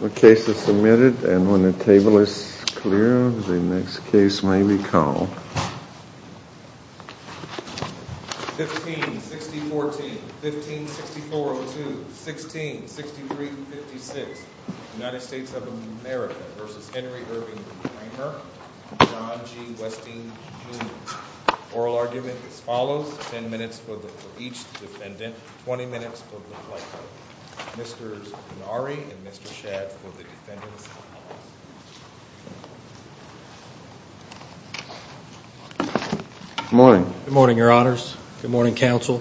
The case is submitted and when the table is clear, the next case may be called. 156014, 156402, 166356, United States of America v. Henry Irving Ramer and John G. Westine Jr. The oral argument is as follows. 10 minutes for each defendant, 20 minutes for the plaintiff. Mr. Gennari and Mr. Shadd for the defendants. Good morning. Good morning, your honors. Good morning, counsel.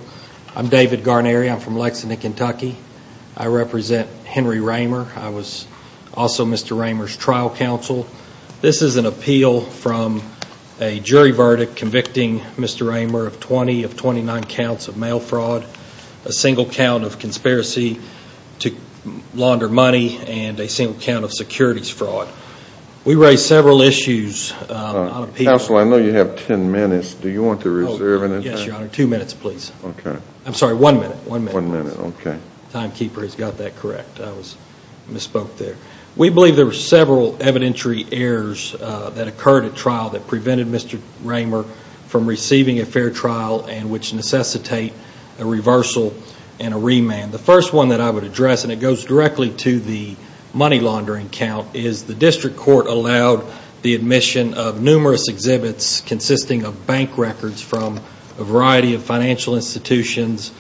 I'm David Garneri. I'm from Lexington, Kentucky. I represent Henry Ramer. I was also Mr. Ramer's trial counsel. This is an appeal from a jury verdict convicting Mr. Ramer of 20 of 29 counts of mail fraud, a single count of conspiracy to launder money, and a single count of securities fraud. We raised several issues. Counsel, I know you have 10 minutes. Do you want to reserve an entire? Yes, your honor. Two minutes, please. Okay. I'm sorry, one minute. One minute. One minute, okay. Timekeeper has got that correct. I misspoke there. We believe there were several evidentiary errors that occurred at trial that prevented Mr. Ramer from receiving a fair trial and which necessitate a reversal and a remand. The first one that I would address, and it goes directly to the money laundering count, is the district court allowed the admission of numerous exhibits consisting of bank records from a variety of financial institutions,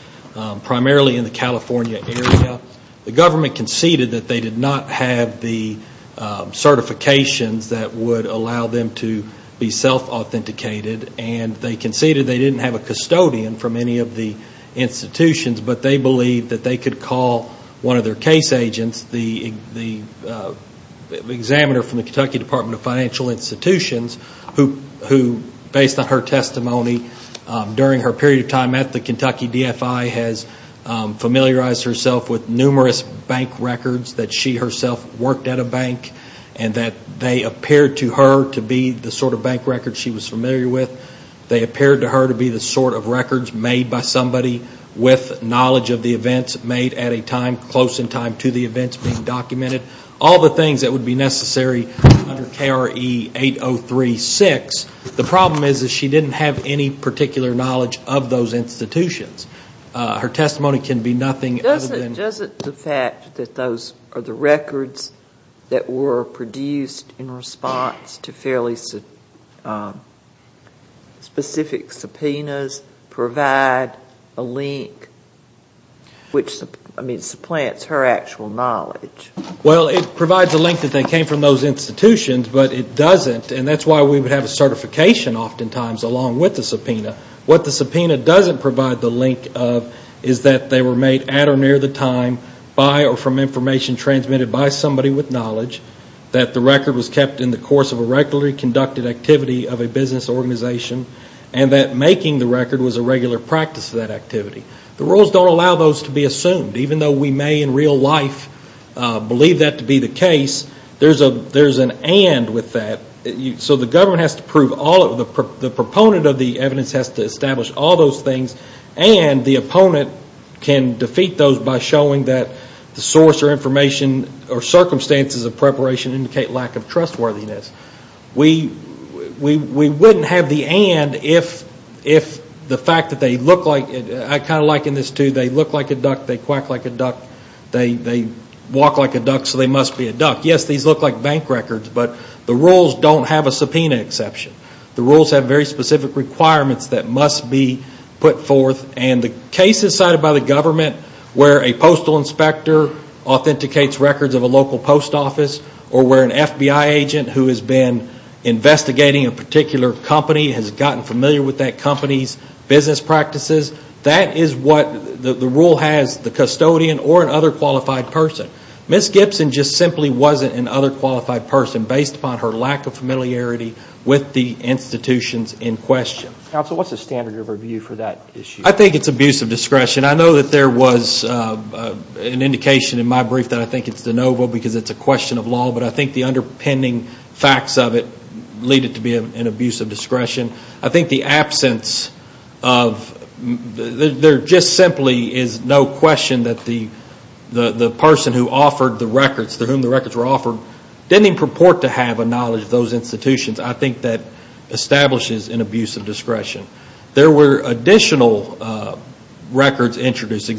primarily in the California area. The government conceded that they did not have the certifications that would allow them to be self-authenticated, and they conceded they didn't have a custodian from any of the institutions, but they believed that they could call one of their case agents, the examiner from the Kentucky Department of Financial Institutions, who based on her testimony during her period of time at the Kentucky DFI has familiarized herself with numerous bank records that she herself worked at a bank and that they appeared to her to be the sort of bank records she was familiar with. They appeared to her to be the sort of records made by somebody with knowledge of the events, made at a time close in time to the events being documented. All the things that would be necessary under KRE 8036. The problem is that she didn't have any particular knowledge of those institutions. Her testimony can be nothing other than- Doesn't the fact that those are the records that were produced in response to fairly specific subpoenas provide a link which supplants her actual knowledge? Well, it provides a link that they came from those institutions, but it doesn't, and that's why we would have a certification oftentimes along with the subpoena. What the subpoena doesn't provide the link of is that they were made at or near the time by or from information transmitted by somebody with knowledge, that the record was kept in the course of a regularly conducted activity of a business organization, and that making the record was a regular practice of that activity. The rules don't allow those to be assumed. Even though we may in real life believe that to be the case, there's an and with that. So the government has to prove all of the- The proponent of the evidence has to establish all those things, and the opponent can defeat those by showing that the source or information or circumstances of preparation indicate lack of trustworthiness. We wouldn't have the and if the fact that they look like- I kind of liken this to they look like a duck, they quack like a duck, they walk like a duck, so they must be a duck. Yes, these look like bank records, but the rules don't have a subpoena exception. The rules have very specific requirements that must be put forth, and the cases cited by the government where a postal inspector authenticates records of a local post office or where an FBI agent who has been investigating a particular company has gotten familiar with that company's business practices, that is what the rule has the custodian or an other qualified person. Ms. Gibson just simply wasn't an other qualified person based upon her lack of familiarity with the institutions in question. Counsel, what's the standard of review for that issue? I think it's abuse of discretion. I know that there was an indication in my brief that I think it's de novo because it's a question of law, but I think the underpinning facts of it lead it to be an abuse of discretion. I think the absence of, there just simply is no question that the person who offered the records, to whom the records were offered, didn't even purport to have a knowledge of those institutions. I think that establishes an abuse of discretion. There were additional records introduced.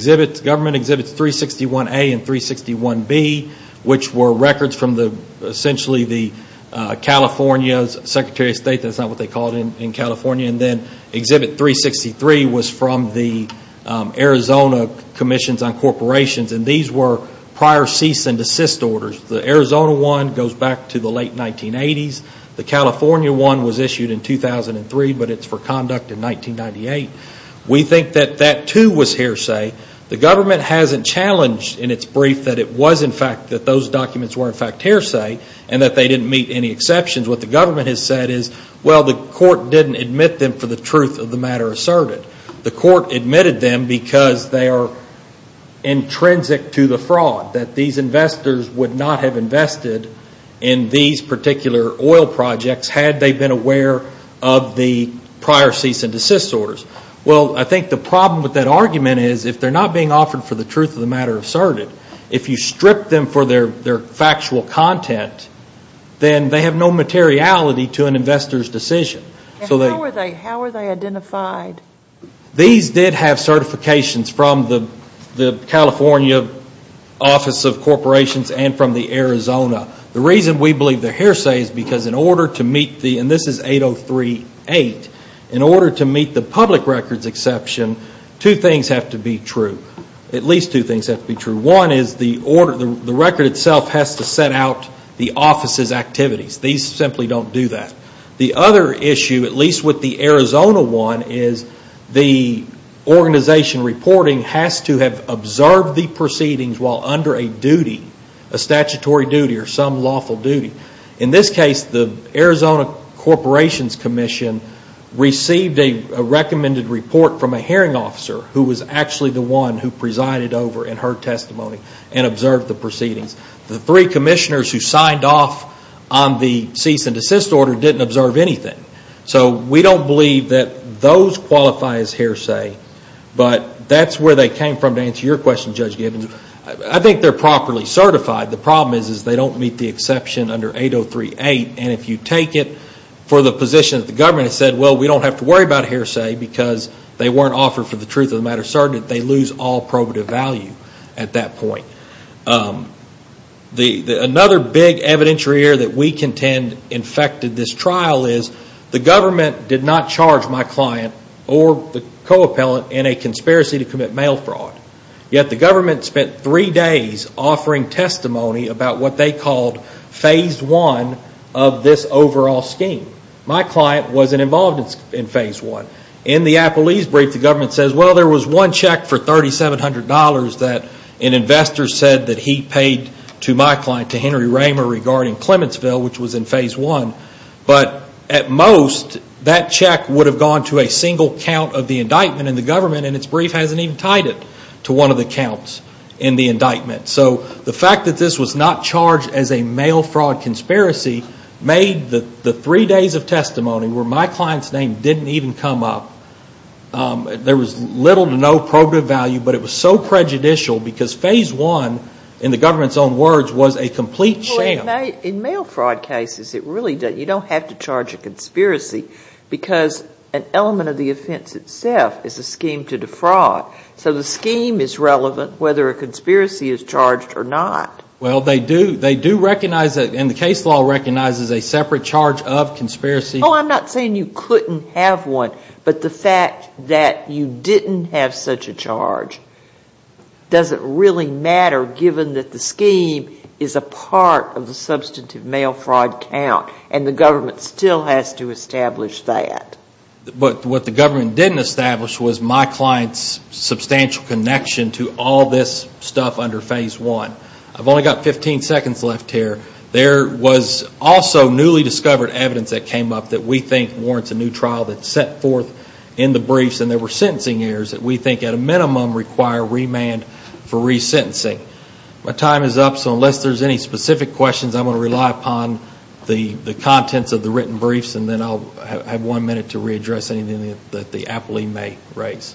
Government exhibits 361A and 361B, which were records from essentially California's Secretary of State, that's not what they call it in California, and then exhibit 363 was from the Arizona Commissions on Corporations. These were prior cease and desist orders. The Arizona one goes back to the late 1980s. The California one was issued in 2003, but it's for conduct in 1998. We think that that too was hearsay. The government hasn't challenged in its brief that it was in fact, that those documents were in fact hearsay, and that they didn't meet any exceptions. What the government has said is, well, the court didn't admit them for the truth of the matter asserted. The court admitted them because they are intrinsic to the fraud, that these investors would not have invested in these particular oil projects had they been aware of the prior cease and desist orders. Well, I think the problem with that argument is, if they're not being offered for the truth of the matter asserted, if you strip them for their factual content, then they have no materiality to an investor's decision. How are they identified? These did have certifications from the California Office of Corporations and from the Arizona. The reason we believe they're hearsay is because in order to meet the, and this is 8038, in order to meet the public records exception, two things have to be true. At least two things have to be true. One is the record itself has to set out the office's activities. These simply don't do that. The other issue, at least with the Arizona one, is the organization reporting has to have observed the proceedings while under a duty, a statutory duty or some lawful duty. In this case, the Arizona Corporations Commission received a recommended report from a hearing officer who was actually the one who presided over in her testimony and observed the proceedings. The three commissioners who signed off on the cease and desist order didn't observe anything. So we don't believe that those qualify as hearsay, but that's where they came from to answer your question, Judge Gibbons. I think they're properly certified. The problem is they don't meet the exception under 8038, and if you take it for the position that the government has said, well, we don't have to worry about hearsay because they weren't offered for the truth of the matter, certainly they lose all probative value at that point. Another big evidentiary error that we contend infected this trial is the government did not charge my client or the co-appellant in a conspiracy to commit mail fraud. Yet the government spent three days offering testimony about what they called phase one of this overall scheme. My client wasn't involved in phase one. In the Appleese brief, the government says, well, there was one check for $3,700 that an investor said that he paid to my client, to Henry Raymer, regarding Clementsville, which was in phase one. But at most, that check would have gone to a single count of the indictment in the government, and its brief hasn't even tied it to one of the counts in the indictment. So the fact that this was not charged as a mail fraud conspiracy made the three days of testimony where my client's name didn't even come up, there was little to no probative value, but it was so prejudicial because phase one, in the government's own words, was a complete sham. In mail fraud cases, it really doesn't, you don't have to charge a conspiracy because an element of the offense itself is a scheme to defraud. So the scheme is relevant whether a conspiracy is charged or not. Well, they do recognize that, and the case law recognizes a separate charge of conspiracy. Oh, I'm not saying you couldn't have one, but the fact that you didn't have such a charge doesn't really matter given that the scheme is a part of the substantive mail fraud count, and the government still has to establish that. But what the government didn't establish was my client's substantial connection to all this stuff under phase one. I've only got 15 seconds left here. There was also newly discovered evidence that came up that we think warrants a new trial that's set forth in the briefs, and there were sentencing errors that we think at a minimum require remand for resentencing. My time is up, so unless there's any specific questions, I'm going to rely upon the contents of the written briefs, and then I'll have one minute to readdress anything that the appellee may raise.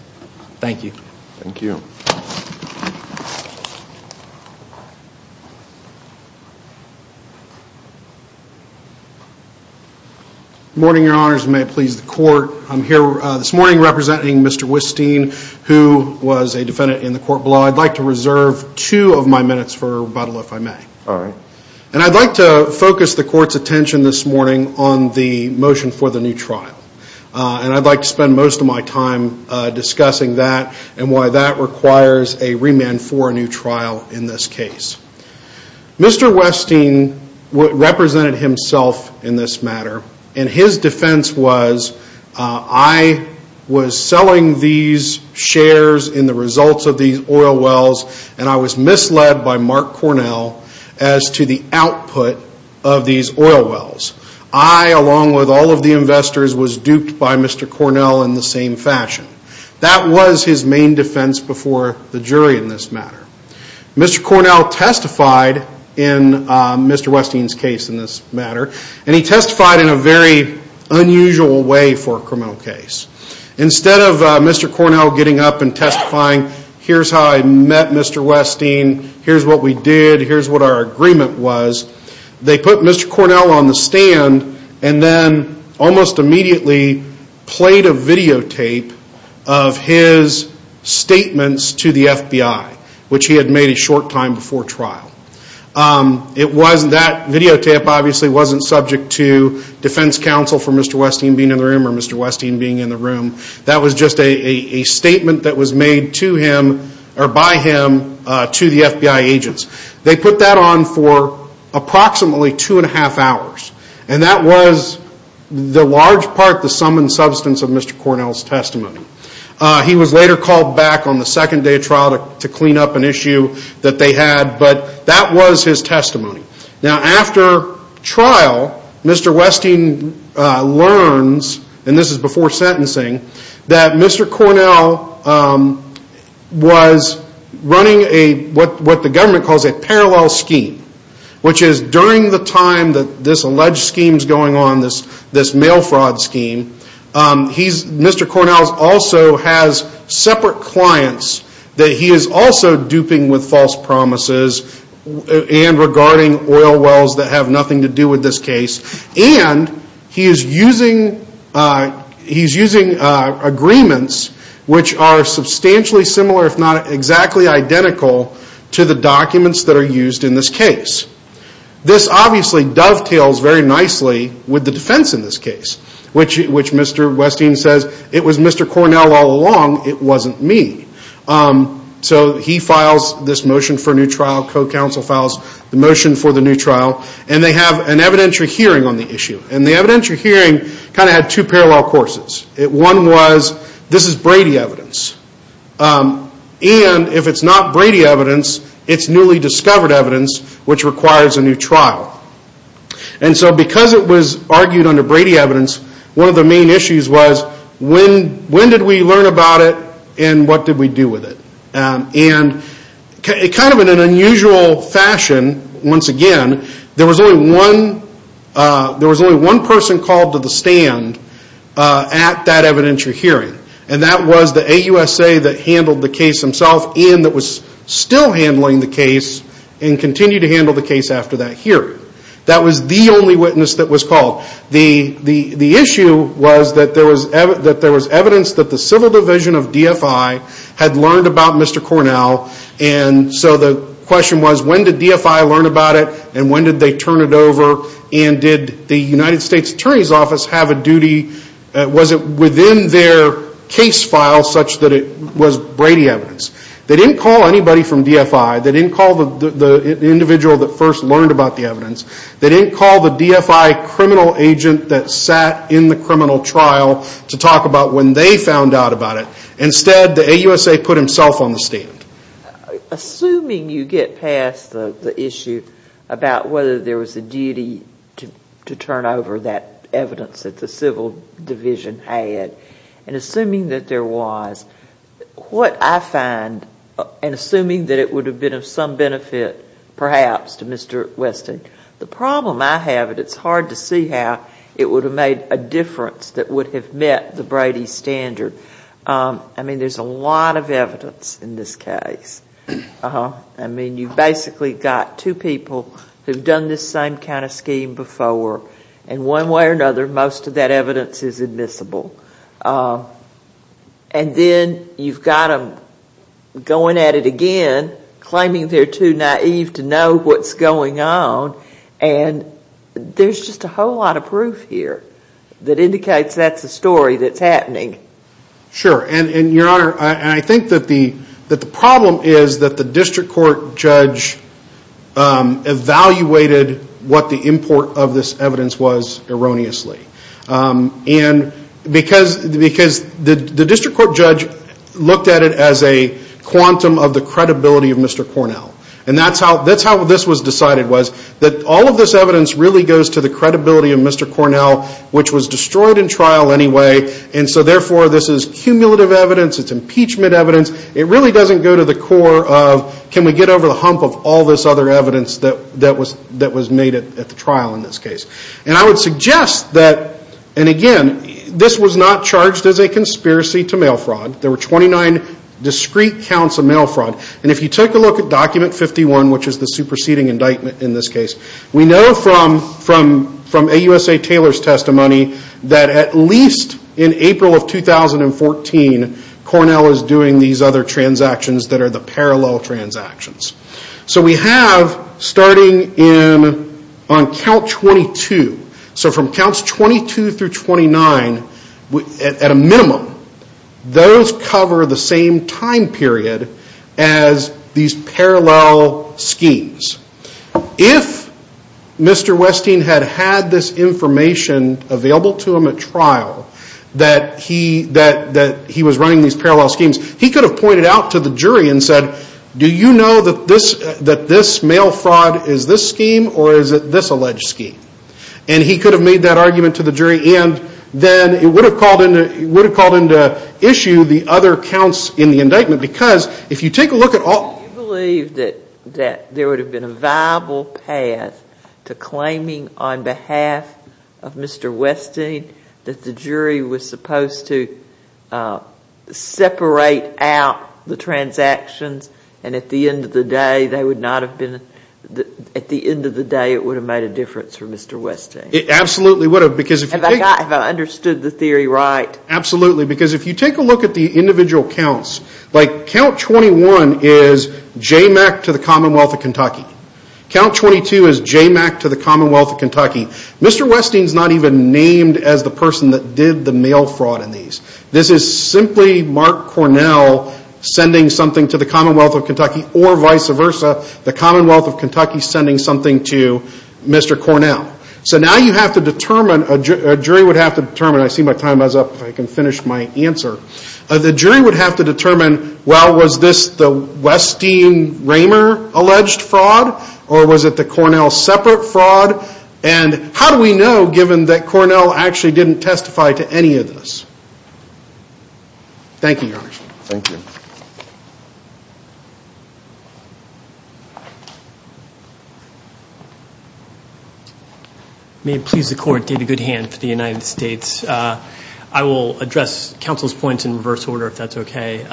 Thank you. Thank you. Good morning, Your Honors, and may it please the Court. I'm here this morning representing Mr. Wisteen, who was a defendant in the court below. I'd like to reserve two of my minutes for rebuttal, if I may. All right. And I'd like to focus the Court's attention this morning on the motion for the new trial, and I'd like to spend most of my time discussing that and why that requires a remand for a new trial in this case. Mr. Wisteen represented himself in this matter, and his defense was, I was selling these shares in the results of these oil wells, and I was misled by Mark Cornell as to the output of these oil wells. I, along with all of the investors, was duped by Mr. Cornell in the same fashion. That was his main defense before the jury in this matter. Mr. Cornell testified in Mr. Wisteen's case in this matter, and he testified in a very unusual way for a criminal case. Instead of Mr. Cornell getting up and testifying, here's how I met Mr. Wisteen, here's what we did, here's what our agreement was, they put Mr. Cornell on the stand and then almost immediately played a videotape of his statements to the FBI, which he had made a short time before trial. That videotape obviously wasn't subject to defense counsel for Mr. Wisteen being in the room or Mr. Wisteen being in the room. That was just a statement that was made to him or by him to the FBI agents. They put that on for approximately two and a half hours, and that was the large part, the sum and substance of Mr. Cornell's testimony. He was later called back on the second day of trial to clean up an issue that they had, but that was his testimony. Now after trial, Mr. Wisteen learns, and this is before sentencing, that Mr. Cornell was running what the government calls a parallel scheme, which is during the time that this alleged scheme is going on, this mail fraud scheme, Mr. Cornell also has separate clients that he is also duping with false promises and regarding oil wells that have nothing to do with this case, and he is using agreements which are substantially similar, if not exactly identical, to the documents that are used in this case. This obviously dovetails very nicely with the defense in this case, which Mr. Wisteen says, it was Mr. Cornell all along, it wasn't me. So he files this motion for a new trial, co-counsel files the motion for the new trial, and they have an evidentiary hearing on the issue, and the evidentiary hearing kind of had two parallel courses. One was, this is Brady evidence, and if it's not Brady evidence, it's newly discovered evidence which requires a new trial. And so because it was argued under Brady evidence, one of the main issues was, when did we learn about it, and what did we do with it? And kind of in an unusual fashion, once again, there was only one person called to the stand at that evidentiary hearing, and that was the AUSA that handled the case themselves, and that was still handling the case and continued to handle the case after that hearing. That was the only witness that was called. The issue was that there was evidence that the civil division of DFI had learned about Mr. Cornell, and so the question was, when did DFI learn about it, and when did they turn it over, and did the United States Attorney's Office have a duty, was it within their case file such that it was Brady evidence? They didn't call anybody from DFI. They didn't call the individual that first learned about the evidence. They didn't call the DFI criminal agent that sat in the criminal trial to talk about when they found out about it. Instead, the AUSA put himself on the stand. Assuming you get past the issue about whether there was a duty to turn over that evidence that the civil division had, and assuming that there was, what I find, and assuming that it would have been of some benefit perhaps to Mr. Weston, the problem I have is it's hard to see how it would have made a difference that would have met the Brady standard. I mean, there's a lot of evidence in this case. I mean, you've basically got two people who've done this same kind of scheme before, and one way or another, most of that evidence is admissible. And then you've got them going at it again, claiming they're too naive to know what's going on, and there's just a whole lot of proof here that indicates that's the story that's happening. Sure, and Your Honor, I think that the problem is that the district court judge evaluated what the import of this evidence was erroneously. And because the district court judge looked at it as a quantum of the credibility of Mr. Cornell, and that's how this was decided was that all of this evidence really goes to the credibility of Mr. Cornell, which was destroyed in trial anyway, and so therefore this is cumulative evidence, it's impeachment evidence. It really doesn't go to the core of can we get over the hump of all this other evidence that was made at the trial in this case. And I would suggest that, and again, this was not charged as a conspiracy to mail fraud. There were 29 discrete counts of mail fraud. And if you take a look at document 51, which is the superseding indictment in this case, we know from AUSA Taylor's testimony that at least in April of 2014, Cornell is doing these other transactions that are the parallel transactions. So we have, starting on count 22, so from counts 22 through 29, at a minimum, those cover the same time period as these parallel schemes. If Mr. Westing had had this information available to him at trial that he was running these parallel schemes, he could have pointed out to the jury and said, do you know that this mail fraud is this scheme or is it this alleged scheme? And he could have made that argument to the jury, and then it would have called into issue the other counts in the indictment. Because if you take a look at all – Do you believe that there would have been a viable path to claiming on behalf of Mr. Westing that the jury was supposed to separate out the transactions, and at the end of the day, it would have made a difference for Mr. Westing? It absolutely would have. Have I understood the theory right? Absolutely. Because if you take a look at the individual counts, like count 21 is JMAC to the Commonwealth of Kentucky. Count 22 is JMAC to the Commonwealth of Kentucky. Mr. Westing is not even named as the person that did the mail fraud in these. This is simply Mark Cornell sending something to the Commonwealth of Kentucky, or vice versa, the Commonwealth of Kentucky sending something to Mr. Cornell. So now you have to determine – a jury would have to determine – I see my time is up. I can finish my answer. The jury would have to determine, well, was this the Westing-Raymer alleged fraud, or was it the Cornell separate fraud? And how do we know, given that Cornell actually didn't testify to any of this? Thank you, Your Honor. Thank you. May it please the Court to give a good hand for the United States. I will address counsel's points in reverse order, if that's okay.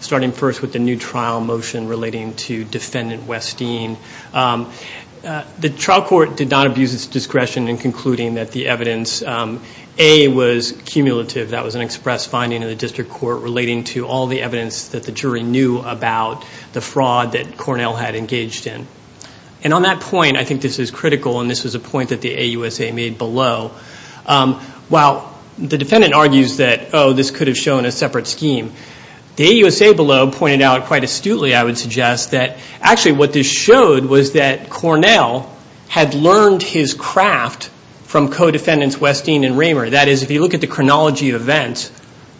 Starting first with the new trial motion relating to Defendant Westing. The trial court did not abuse its discretion in concluding that the evidence A was cumulative. That was an express finding of the district court relating to all the evidence that the jury knew about the fraud that Cornell had engaged in. And on that point, I think this is critical, and this was a point that the AUSA made below. While the defendant argues that, oh, this could have shown a separate scheme, the AUSA below pointed out quite astutely, I would suggest, that actually what this showed was that Cornell had learned his craft from co-defendants Westing and Raymer. That is, if you look at the chronology of events,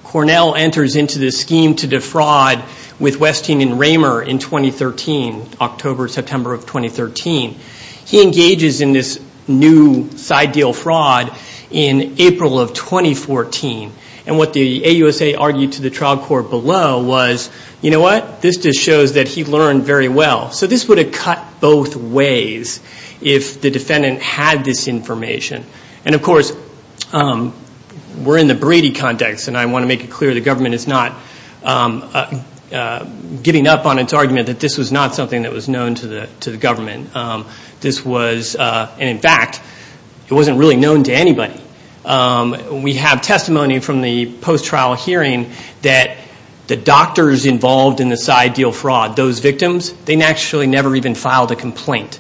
Cornell enters into this scheme to defraud with Westing and Raymer in 2013, October, September of 2013. He engages in this new side deal fraud in April of 2014. And what the AUSA argued to the trial court below was, you know what? This just shows that he learned very well. So this would have cut both ways if the defendant had this information. And, of course, we're in the Brady context, and I want to make it clear the government is not giving up on its argument that this was not something that was known to the government. This was, and in fact, it wasn't really known to anybody. We have testimony from the post-trial hearing that the doctors involved in this side deal fraud, those victims, they actually never even filed a complaint.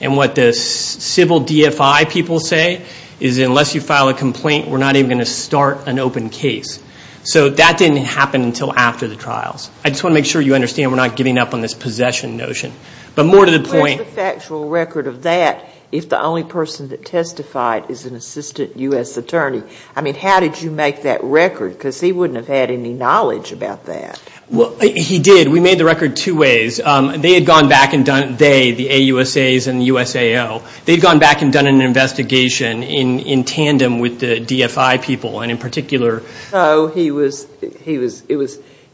And what the civil DFI people say is unless you file a complaint, we're not even going to start an open case. So that didn't happen until after the trials. I just want to make sure you understand we're not giving up on this possession notion. But more to the point. What is the factual record of that if the only person that testified is an assistant U.S. attorney? I mean, how did you make that record? Because he wouldn't have had any knowledge about that. Well, he did. We made the record two ways. They had gone back and done, they, the AUSAs and the USAO, they'd gone back and done an investigation in tandem with the DFI people, and in particular. So it was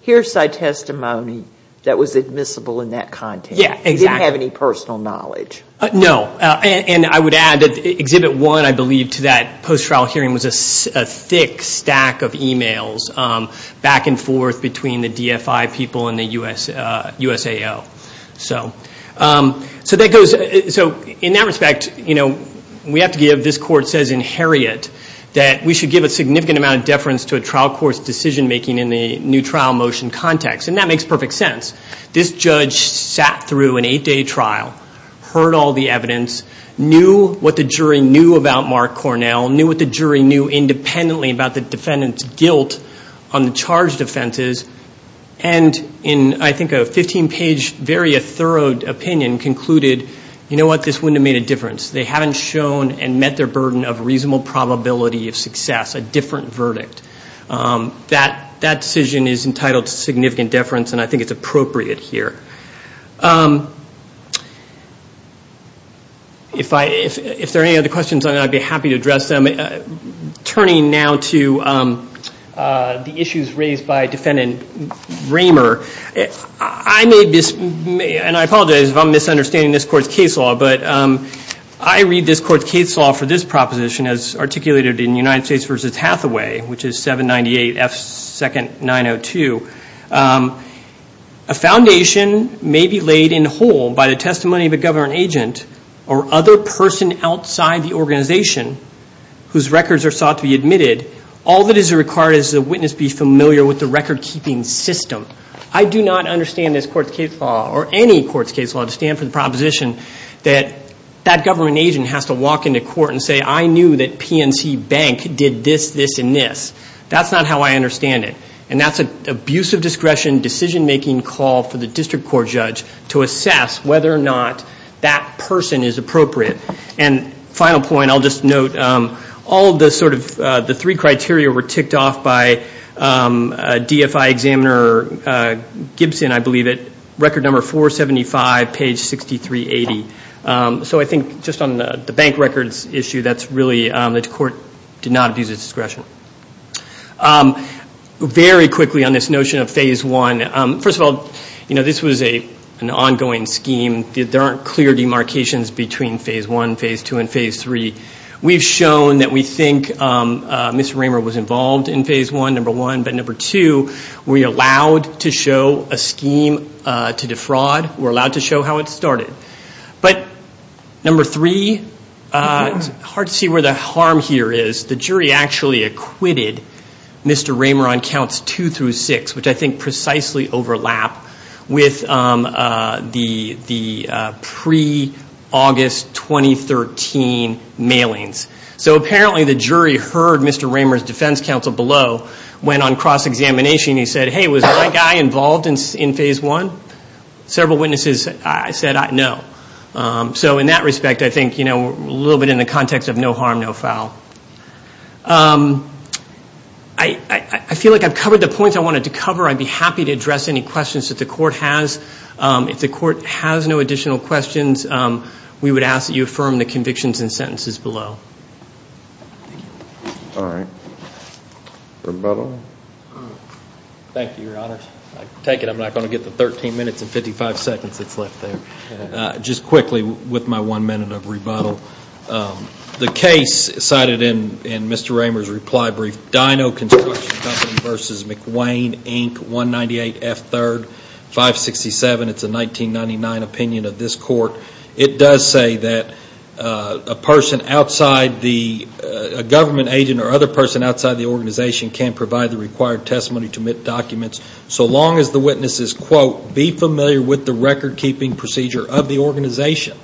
hearsay testimony that was admissible in that context. Yeah, exactly. He didn't have any personal knowledge. No. And I would add that Exhibit 1, I believe, to that post-trial hearing was a thick stack of e-mails back and forth between the DFI people and the USAO. So that goes, so in that respect, you know, we have to give, this court says in Harriet, that we should give a significant amount of deference to a trial court's decision making in the new trial motion context. And that makes perfect sense. This judge sat through an eight-day trial, heard all the evidence, knew what the jury knew about Mark Cornell, knew what the jury knew independently about the defendant's guilt on the charged offenses, and in, I think, a 15-page, very thorough opinion, concluded, you know what, this wouldn't have made a difference. They haven't shown and met their burden of reasonable probability of success, a different verdict. That decision is entitled to significant deference, and I think it's appropriate here. If there are any other questions, I'd be happy to address them. Turning now to the issues raised by Defendant Raymer, I made this, and I apologize if I'm misunderstanding this court's case law, but I read this court's case law for this proposition as articulated in United States v. Hathaway, which is 798 F. 2nd. 902. A foundation may be laid in whole by the testimony of a government agent or other person outside the organization whose records are sought to be admitted, all that is required is the witness be familiar with the record-keeping system. I do not understand this court's case law or any court's case law to stand for the proposition that that government agent has to walk into court and say, I knew that PNC Bank did this, this, and this. That's not how I understand it, and that's an abuse of discretion, decision-making call for the district court judge to assess whether or not that person is appropriate. Final point, I'll just note, all the three criteria were ticked off by DFI examiner Gibson, I believe, at record number 475, page 6380. So I think just on the bank records issue, that's really, the court did not abuse its discretion. Very quickly on this notion of phase one, first of all, this was an ongoing scheme. There aren't clear demarcations between phase one, phase two, and phase three. We've shown that we think Mr. Raymer was involved in phase one, number one. But number two, we allowed to show a scheme to defraud. We're allowed to show how it started. But number three, it's hard to see where the harm here is. The jury actually acquitted Mr. Raymer on counts two through six, which I think precisely overlap with the pre-August 2013 mailings. So apparently the jury heard Mr. Raymer's defense counsel below, went on cross-examination, and he said, hey, was that guy involved in phase one? Several witnesses said no. So in that respect, I think we're a little bit in the context of no harm, no foul. I feel like I've covered the points I wanted to cover. I'd be happy to address any questions that the court has. If the court has no additional questions, we would ask that you affirm the convictions and sentences below. All right. Roberto? Thank you, Your Honor. I take it I'm not going to get the 13 minutes and 55 seconds that's left there. Just quickly, with my one minute of rebuttal, the case cited in Mr. Raymer's reply brief, Dyno Construction Company v. McWane, Inc., 198F3, 567. It's a 1999 opinion of this court. It does say that a person outside the government agent or other person outside the organization can provide the required testimony to admit documents so long as the witness is, quote, be familiar with the record-keeping procedure of the organization.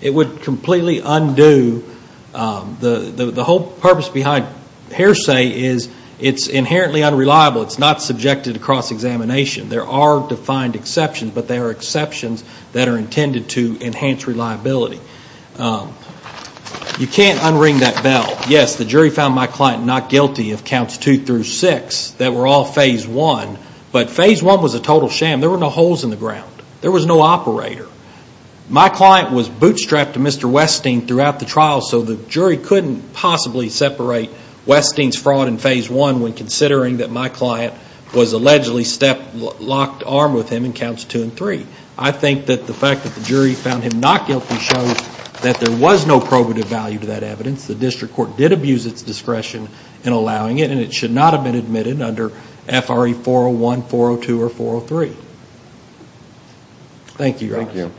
It would completely undo. The whole purpose behind hearsay is it's inherently unreliable. It's not subjected to cross-examination. There are defined exceptions, but they are exceptions that are intended to enhance reliability. You can't unring that bell. Yes, the jury found my client not guilty of counts two through six that were all phase one, but phase one was a total sham. There were no holes in the ground. There was no operator. My client was bootstrapped to Mr. Westing throughout the trial, so the jury couldn't possibly separate Westing's fraud in phase one when considering that my client was allegedly stepped, locked arm with him in counts two and three. I think that the fact that the jury found him not guilty shows that there was no probative value to that evidence. The district court did abuse its discretion in allowing it, and it should not have been admitted under FRA 401, 402, or 403. Thank you, Your Honor. Thank you.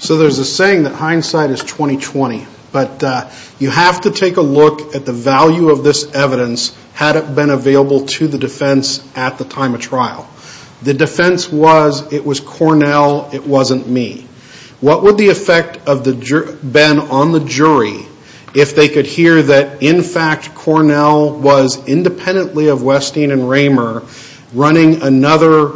So there's a saying that hindsight is 20-20, but you have to take a look at the value of this evidence had it been available to the defense at the time of trial. The defense was it was Cornell, it wasn't me. What would the effect have been on the jury if they could hear that, in fact, Cornell was independently of Westing and Raymer running another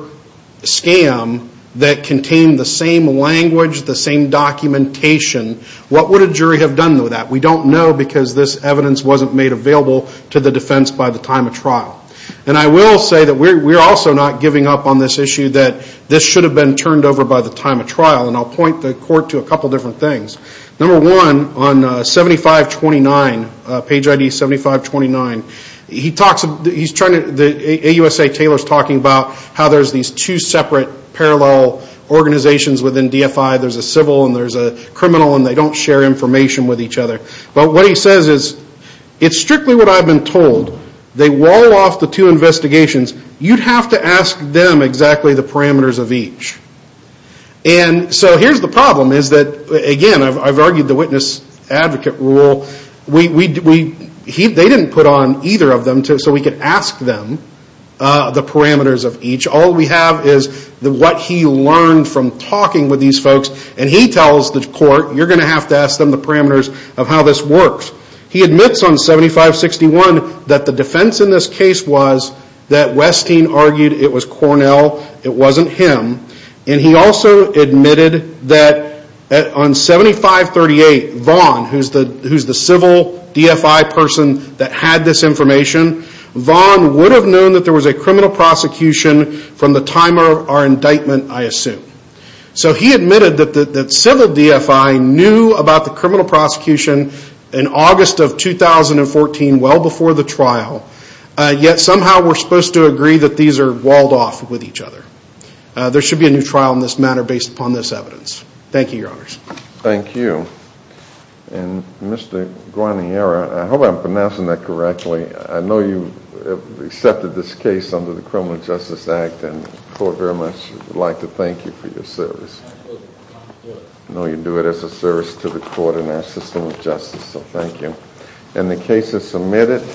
scam that contained the same language, the same documentation? What would a jury have done with that? We don't know because this evidence wasn't made available to the defense by the time of trial. And I will say that we're also not giving up on this issue that this should have been turned over by the time of trial, and I'll point the court to a couple different things. Number one, on 7529, page ID 7529, he talks, he's trying to, AUSA Taylor's talking about how there's these two separate parallel organizations within DFI. There's a civil and there's a criminal, and they don't share information with each other. But what he says is, it's strictly what I've been told. They wall off the two investigations. You'd have to ask them exactly the parameters of each. And so here's the problem is that, again, I've argued the witness advocate rule. They didn't put on either of them so we could ask them the parameters of each. All we have is what he learned from talking with these folks. And he tells the court, you're going to have to ask them the parameters of how this works. He admits on 7561 that the defense in this case was that Westing argued it was Cornell, it wasn't him. And he also admitted that on 7538, Vaughn, who's the civil DFI person that had this information, Vaughn would have known that there was a criminal prosecution from the time of our indictment, I assume. So he admitted that civil DFI knew about the criminal prosecution in August of 2014, well before the trial. Yet somehow we're supposed to agree that these are walled off with each other. There should be a new trial in this matter based upon this evidence. Thank you, Your Honors. Thank you. And Mr. Guarniera, I hope I'm pronouncing that correctly. I know you accepted this case under the Criminal Justice Act and the court very much would like to thank you for your service. I know you do it as a service to the court and our system of justice, so thank you. And the case is submitted.